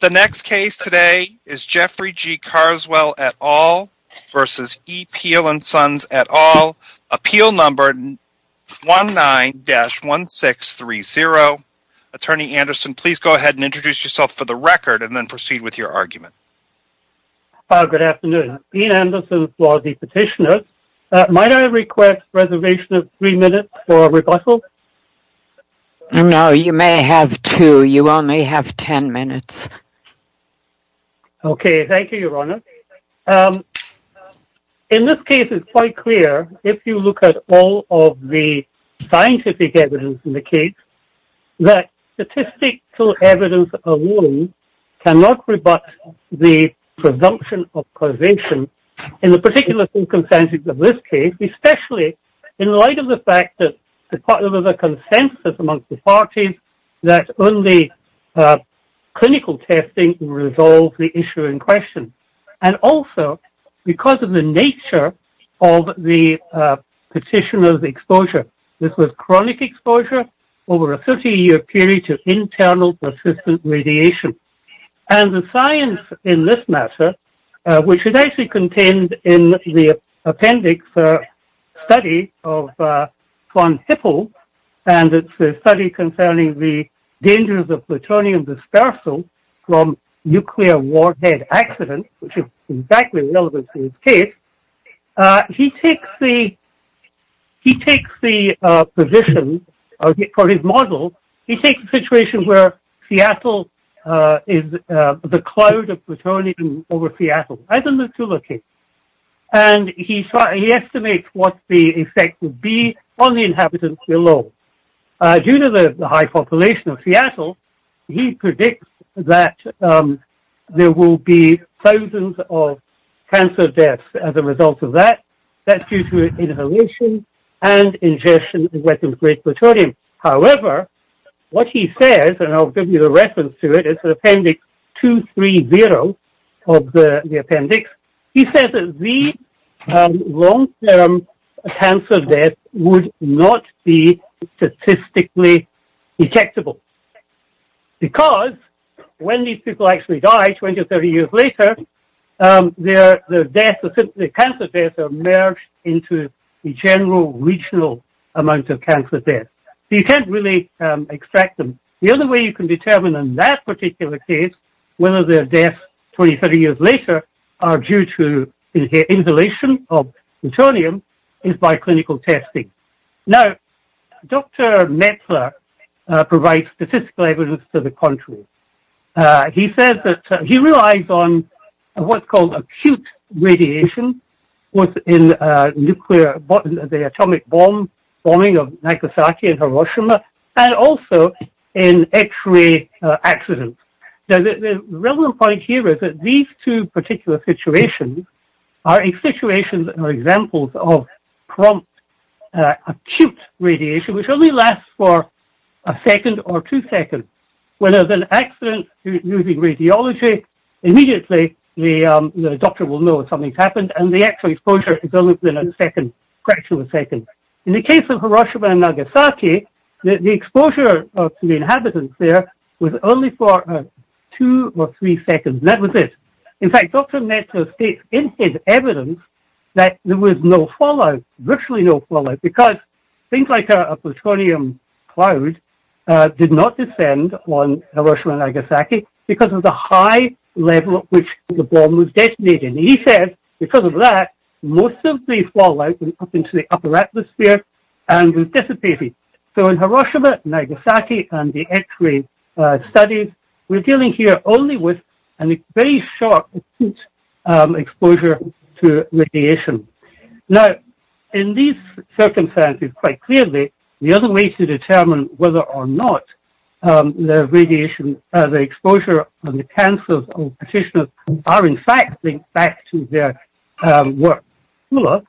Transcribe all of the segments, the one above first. The next case today is Jeffrey G. Carswell et al. v. E. Pihl & Sons et al. Appeal number 19-1630. Attorney Anderson, please go ahead and introduce yourself for the record, and then proceed with your argument. Good afternoon. Dean Anderson for the Petitioners. Might I request reservation of three minutes for rebuttal? No, you may have two. You only have ten minutes. Okay, thank you, Your Honor. In this case, it's quite clear, if you look at all of the scientific evidence in the case, that statistical evidence alone cannot rebut the presumption of causation in the particular circumstances of this case, especially in light of the fact that there's a consensus amongst the parties that only clinical testing will resolve the issue in question, and also because of the nature of the Petitioner's exposure. This was chronic exposure over a 30-year period to internal persistent radiation. And the science in this matter, which is actually contained in the appendix study of Van Hippel, and it's a study concerning the dangers of plutonium dispersal from nuclear warhead accidents, which is exactly relevant to this case, he takes the position for his model, he takes the situation where Seattle is the cloud of plutonium over Seattle, as in the Kula case, and he estimates what the effect would be on the inhabitants below. Due to the high population of Seattle, he predicts that there will be thousands of cancer deaths as a result of that. That's due to inhalation and ingestion of weapons of great plutonium. However, what he says, and I'll give you the reference to it, it's Appendix 230 of the appendix, he says that the long-term cancer death would not be statistically detectable, because when these people actually die 20 or 30 years later, their deaths, their cancer deaths are merged into the general regional amount of cancer deaths. So you can't really extract them. The only way you can determine in that particular case whether their deaths 20 or 30 years later are due to inhalation of plutonium is by clinical testing. Now, Dr. Metzler provides statistical evidence to the contrary. He says that he relies on what's called acute radiation within the atomic bombing of Nagasaki and Hiroshima, and also in x-ray accidents. Now, the relevant point here is that these two particular situations are examples of prompt acute radiation, which only lasts for a second or two seconds. When there's an accident using x-ray exposure, it's only within a fraction of a second. In the case of Hiroshima and Nagasaki, the exposure to the inhabitants there was only for two or three seconds, and that was it. In fact, Dr. Metzler states in his evidence that there was no fallout, virtually no fallout, because things like a plutonium cloud did not descend on Hiroshima and Nagasaki because of the high level at which the bomb was detonated. He said, because of that, most of the fallout went up into the upper atmosphere and dissipated. So in Hiroshima, Nagasaki, and the x-ray studies, we're dealing here only with a very short, acute exposure to radiation. Now, in these circumstances, quite clearly, the other way to determine whether or not the radiation, the exposure, and the cancers of the petitioners are, in fact, linked back to their work. You have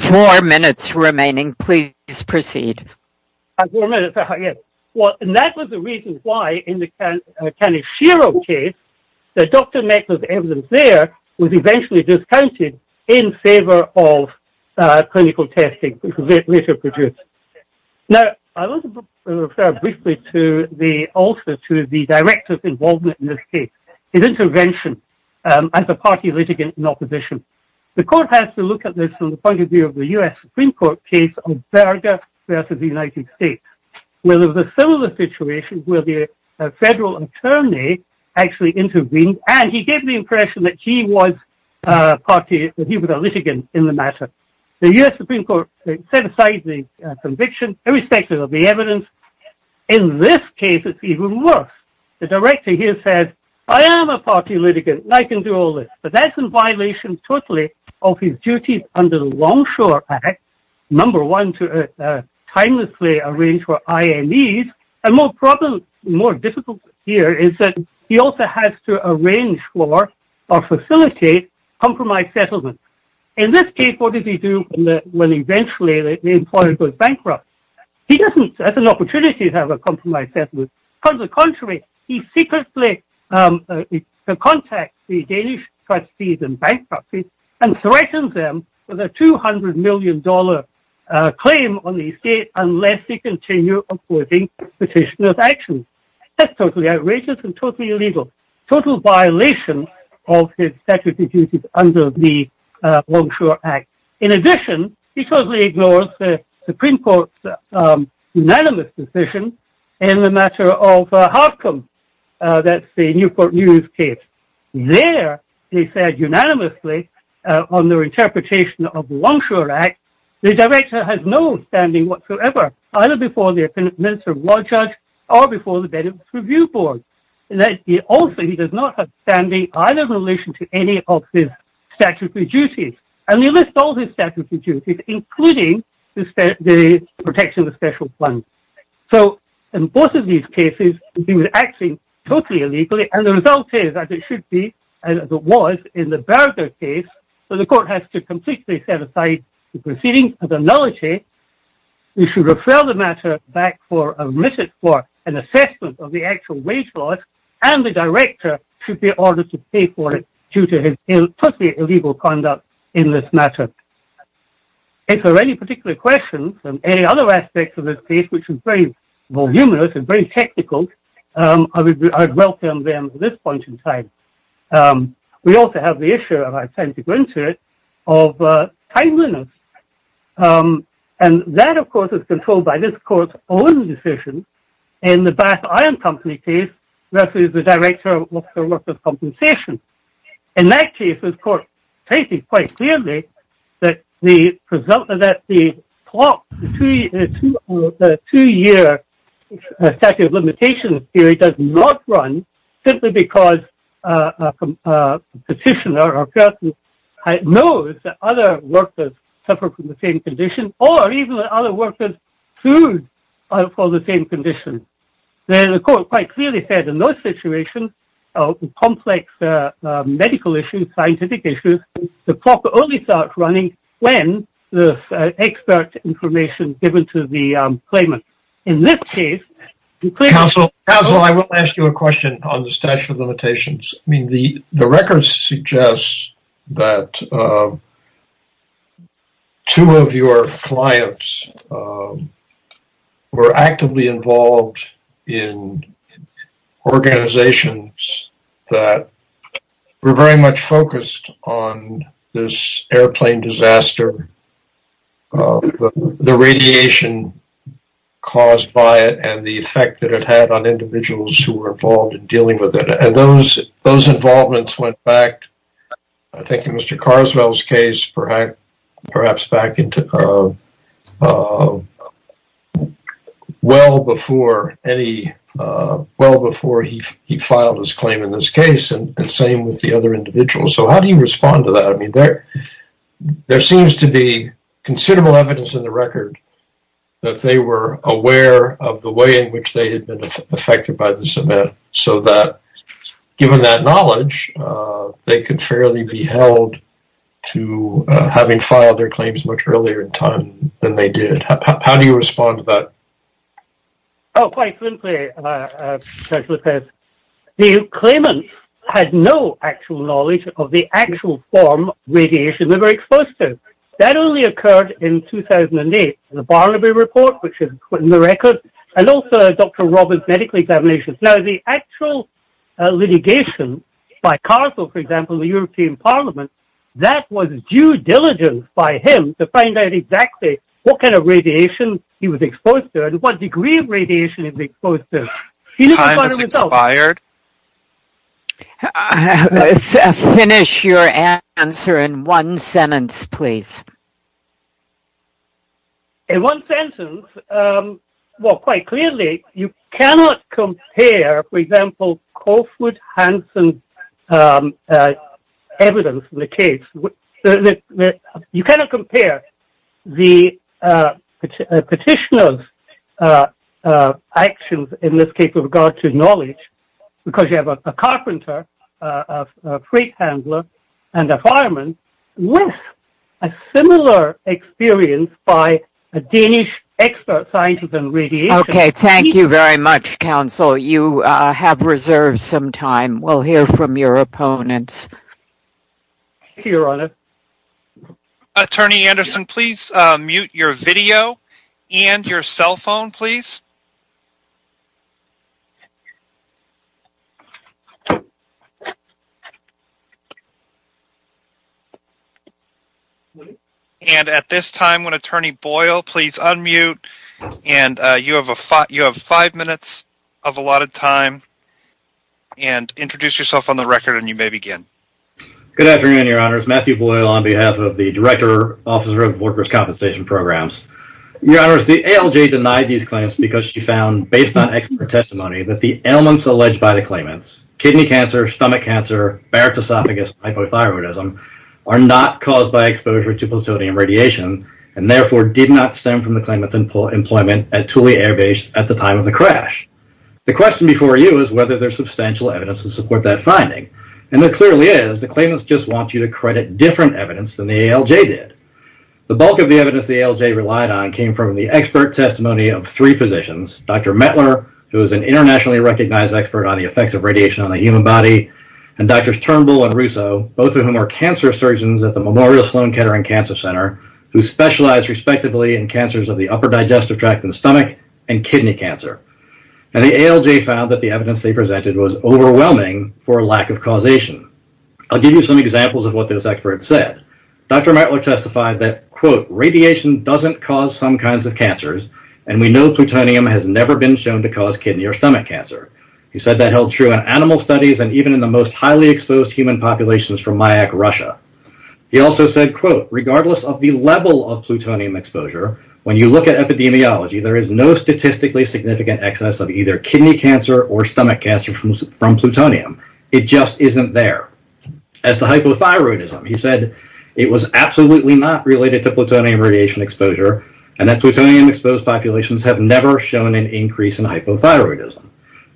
four minutes remaining. Please proceed. That was the reason why, in the Kaneshiro case, Dr. Metzler's evidence there was eventually discounted in favor of clinical testing, which was later produced. Now, I want to refer briefly also to the director's involvement in this case, his intervention as a party litigant in opposition. The court has to look at this from the point of view of the U.S. Supreme Court case of Berger versus the United States, where there was a similar situation where the federal attorney actually intervened, and he gave the impression that he was a party litigant in the matter. The U.S. Supreme Court set aside the conviction irrespective of the evidence. In this case, it's even worse. The director here said, I am a party litigant, and I can do all this. But that's in violation totally of his duties under the Longshore Act, number one, to timelessly arrange for IMEs. A more difficult problem here is that he also has to arrange for or facilitate compromised settlements. In this case, what does he do when eventually the employer goes bankrupt? He doesn't have an opportunity to have a compromised settlement. On the contrary, he secretly contacts the Danish trustees and bankruptcies and threatens them with a $200 opposing petition of action. That's totally outrageous and totally illegal, total violation of his statutory duties under the Longshore Act. In addition, he totally ignores the Supreme Court's unanimous decision in the matter of Harcum. That's the Newport News case. There, they said unanimously on their interpretation of the Longshore Act, the director has no standing whatsoever, either before the Minister of Law Judge or before the Benefits Review Board. Also, he does not have standing either in relation to any of his statutory duties. And they list all his statutory duties, including the protection of special funds. So in both of these cases, he was acting totally illegally. And the result is, as it should be, in the Berger case, the court has to completely set aside the proceedings of the nullity. We should refer the matter back for a minute for an assessment of the actual wage laws, and the director should be ordered to pay for it due to his totally illegal conduct in this matter. If there are any particular questions on any other aspects of this case, which is very voluminous and very technical, I would welcome them at this point in time. We also have the issue, and I intend to go into it, of timeliness. And that, of course, is controlled by this court's own decision in the Bath Iron Company case versus the director of workers' compensation. In that case, the court stated quite clearly that the clock, the two-year statute of limitations period does not run simply because a petitioner or person knows that other workers suffer from the same condition, or even that other workers sued for the same condition. Then the court quite clearly said in those situations, complex medical issues, scientific issues, the clock only starts running when the expert information is given to the claimant. In this case, the claimant... Counsel, I want to ask you a question on the statute of limitations. I mean, the records suggest that two of your clients were actively involved in organizations that were very much focused on this airplane disaster, the radiation caused by it, and the effect that it had on individuals who were involved in dealing with it. And those involvements went back, I think in Mr. Carswell's case, perhaps back well before he filed his claim in this case, and the same with the other individuals. So how do you respond to that? I mean, there seems to be considerable evidence in the record that they were aware of the way in which they had been affected by this event, so that given that knowledge, they could fairly be held to having filed their claims much earlier in time than they did. How do you respond to that? Oh, quite simply, Judge Lopez, the claimant had no actual knowledge of the actual form of radiation they were exposed to. That only occurred in 2008 in the Barnaby report, which is put in the record, and also Dr. Roberts' medical examinations. Now, the actual litigation by Carswell, for example, in the European Parliament, that was due diligence by him to find out exactly what kind of radiation he was exposed to and what degree of radiation he was exposed to. Time has expired. Finish your answer in one sentence, please. In one sentence, well, quite clearly, you cannot compare, for example, Coffwood Hanson's case, you cannot compare the petitioner's actions in this case with regard to knowledge, because you have a carpenter, a freight handler, and a fireman with a similar experience by a Danish expert scientist on radiation. Okay, thank you very much, counsel. You have reserved some time. We'll hear from your opponents. Your Honor. Attorney Anderson, please mute your video and your cell phone, please. And at this time, when Attorney Boyle, please unmute, and you have five minutes of allotted time, and introduce yourself on the record, and you may begin. Good afternoon, Your Honors. Matthew Boyle on behalf of the Director, Officer of Workers' Compensation Programs. Your Honors, the ALJ denied these claims because she found, based on expert testimony, that the ailments alleged by the claimants, kidney cancer, stomach cancer, baritosophagus, hypothyroidism, are not caused by exposure to plutonium radiation, and therefore did not stem from the claimant's employment at Thule Air Base at the time of the crash. The question before you is whether there's substantial evidence to support that finding, and there clearly is. The claimants just want you to credit different evidence than the ALJ did. The bulk of the evidence the ALJ relied on came from the expert testimony of three physicians, Dr. Mettler, who is an internationally recognized expert on the effects of radiation on the human body, and Drs. Turnbull and Russo, both of whom are cancer surgeons at the Memorial Sloan Kettering Cancer Center, who specialize respectively in cancers of the upper digestive tract and stomach and kidney cancer. And the ALJ found that the evidence they presented was overwhelming for lack of causation. I'll give you some examples of what this expert said. Dr. Mettler testified that, quote, radiation doesn't cause some kinds of cancers, and we know plutonium has never been shown to cause kidney or stomach cancer. He said that held true in animal studies and even in the most highly exposed human populations from Mayak, Russia. He also said, quote, regardless of the level of plutonium exposure, when you look at epidemiology, there is no statistically significant excess of either kidney cancer or stomach cancer from plutonium. It just isn't there. As to hypothyroidism, he said it was absolutely not related to plutonium radiation exposure and that plutonium exposed populations have never shown an increase in hypothyroidism.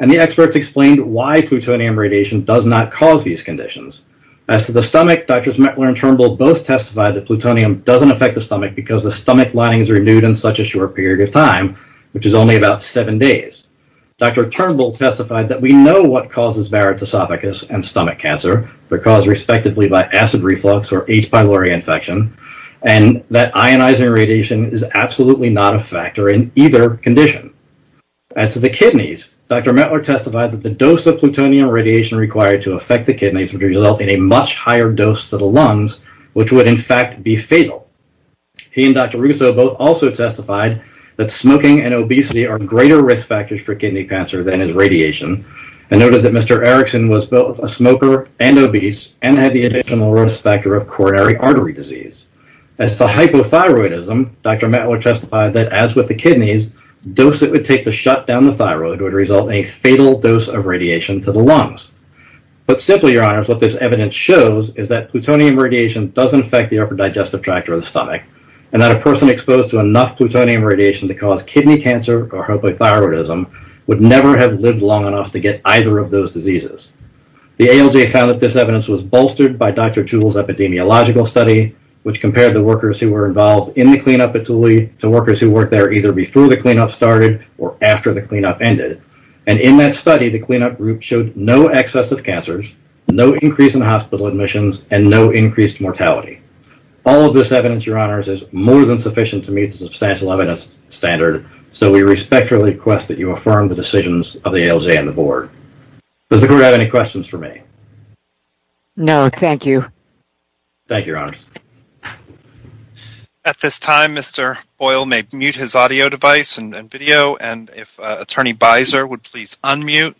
And the experts explained why plutonium radiation does not cause these conditions. As to the stomach, Drs. Mettler and Turnbull both testified that plutonium doesn't affect the stomach because the stomach lining is renewed in such a short period of time, which is only about seven days. Dr. Turnbull testified that we know what causes varicose esophagus and stomach cancer. They're caused respectively by acid reflux or H. pylori infection, and that ionizing radiation is absolutely not a factor in either condition. As to the kidneys, Dr. Mettler testified that the dose of plutonium radiation required to affect the kidneys would result in a much higher dose to the lungs, which would, in fact, be fatal. He and Dr. Russo both also testified that smoking and obesity are greater risk factors for kidney cancer than is radiation and noted that Mr. Erickson was both a smoker and obese and had the additional risk factor of coronary artery disease. As to hypothyroidism, Dr. Mettler testified that, as with the kidneys, dose that would take to shut down the thyroid would result in a fatal dose of radiation to the lungs. But simply, Your Honors, what this evidence shows is that plutonium radiation doesn't affect the upper digestive tract or the stomach, and that a person exposed to enough plutonium radiation to cause kidney cancer or hypothyroidism would never have lived long enough to get either of those diseases. The ALJ found that this evidence was bolstered by Dr. Jewell's epidemiological study, which compared the workers who were involved in the cleanup at Thule to workers who worked there either before the cleanup started or after the cleanup ended. In that study, the cleanup group showed no excess of cancers, no increase in hospital admissions, and no increased mortality. All of this evidence, Your Honors, is more than sufficient to meet the substantial evidence standard, so we respectfully request that you affirm the decisions of the ALJ and the board. Does the group have any questions for me? No, thank you. Thank you, Your Honors. At this time, Mr. Boyle may mute his audio device and video, and if Attorney Beiser would please unmute,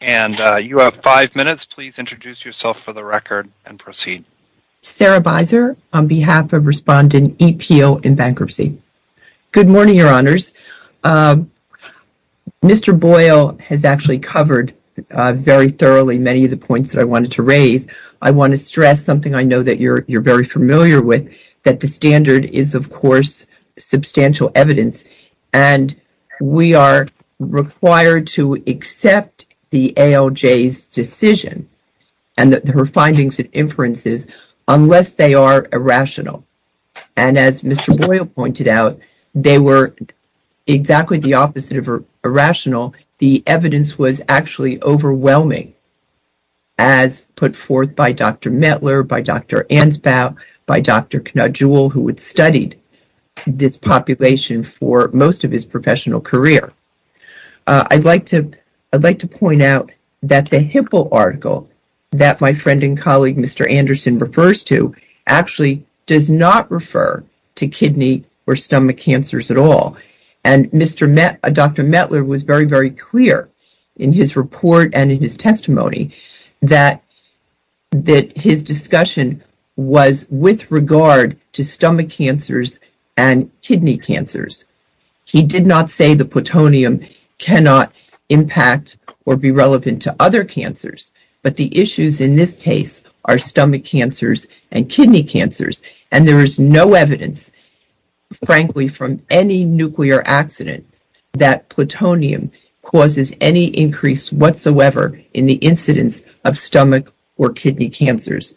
and you have five minutes, please introduce yourself for the record and proceed. Sarah Beiser on behalf of Respondent E. Peel in Bankruptcy. Good morning, Your Honors. Mr. Boyle has actually covered very thoroughly many of the points that I wanted to raise. I want to stress something I know that you're very familiar with, that the standard is, of course, substantial evidence, and we are required to accept the ALJ's decision and her findings and inferences unless they are irrational. And as Mr. Boyle pointed out, they were exactly the opposite of irrational. The evidence was actually overwhelming, as put forth by Dr. Mettler, by Dr. Ansbaugh, by Dr. Knudgell, who had studied this population for most of his professional career. I'd like to point out that the HIPAA article that my friend and colleague, Mr. Anderson, refers to actually does not refer to kidney or stomach cancers at all, and Dr. Mettler was very, very clear in his report and in his testimony that his discussion was with regard to stomach cancers and kidney cancers. He did not say the plutonium cannot impact or be relevant to other cancers, but the issues in this case are stomach cancers and kidney cancers, and there is no evidence, frankly, from any nuclear accident that plutonium causes any increase whatsoever in the incidence of stomach or kidney cancers.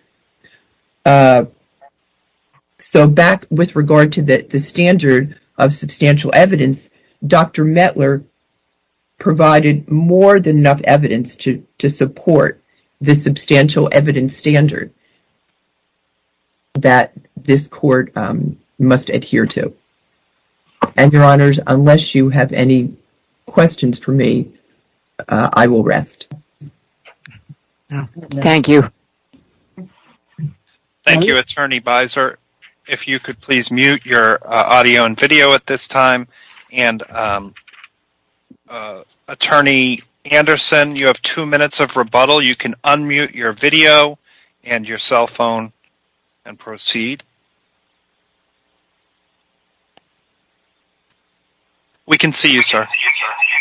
So, back with regard to the standard of substantial evidence, Dr. Mettler provided more than enough evidence to support the substantial evidence standard that this court must adhere to. And, Your Honors, unless you have any questions for me, I will rest. Thank you. Thank you, Attorney Beiser. If you could please mute your audio and video at this time. You can unmute your video and your cell phone and proceed. We can see you, sir.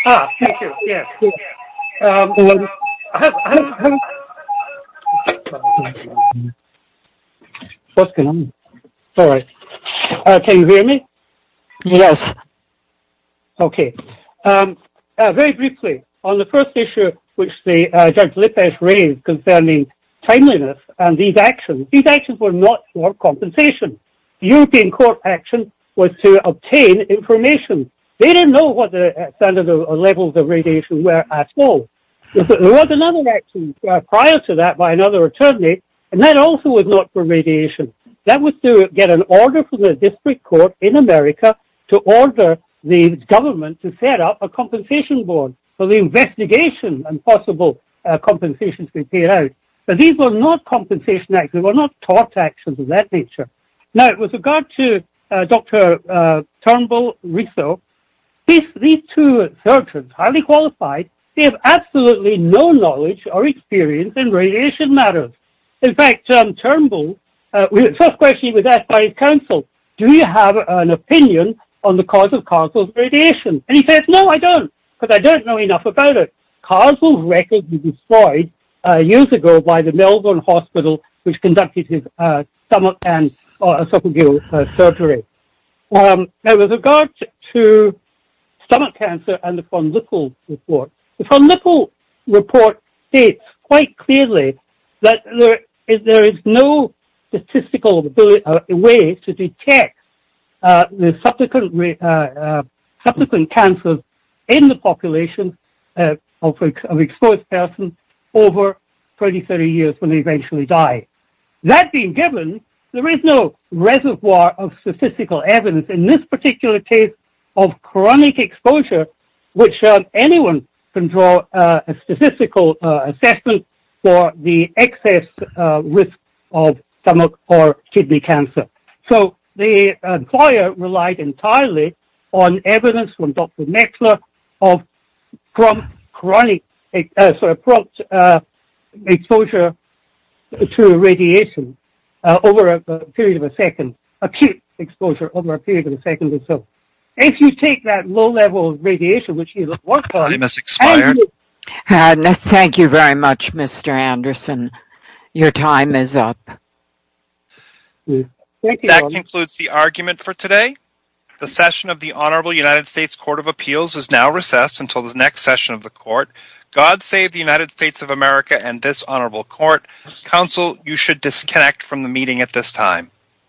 Can you hear me? Yes. Okay. Very briefly, on the first issue which Judge Lippisch raised concerning timeliness and these actions, these actions were not for compensation. European Court action was to obtain information. They didn't know what the standard levels of radiation were at all. There was another action prior to that by another attorney, and that also was not for radiation. That was to get an government to set up a compensation board for the investigation and possible compensation to be paid out. But these were not compensation acts. They were not tort actions of that nature. Now, with regard to Dr. Turnbull-Risseau, these two surgeons, highly qualified, they have absolutely no knowledge or experience in radiation matters. In fact, Turnbull-Risseau, the first question he was asked by his counsel, do you have an opinion on the cause of causal radiation? And he says, no, I don't, because I don't know enough about it. Causal records were destroyed years ago by the Melbourne Hospital, which conducted his stomach and esophageal surgery. Now, with regard to stomach cancer and the von Lippel report, the von Lippel report states quite clearly that there is no statistical way to detect the subsequent cancers in the population of an exposed person over 20, 30 years when they eventually die. That being given, there is no reservoir of statistical evidence in this particular case of chronic exposure, which anyone can draw a statistical assessment for the excess risk of stomach or kidney cancer. So the employer relied entirely on evidence from Dr. Mexler of prompt exposure to radiation over a period of a second, acute exposure over a period of a second or so. If you take that low level of radiation, which he had worked on... Time has expired. Thank you very much, Mr. Anderson. Your time is up. That concludes the argument for today. The session of the Honorable United States Court of Appeals is now recessed until the next session of the court. God save the United States of America and this Honorable Court. Counsel, you should disconnect from the meeting at this time.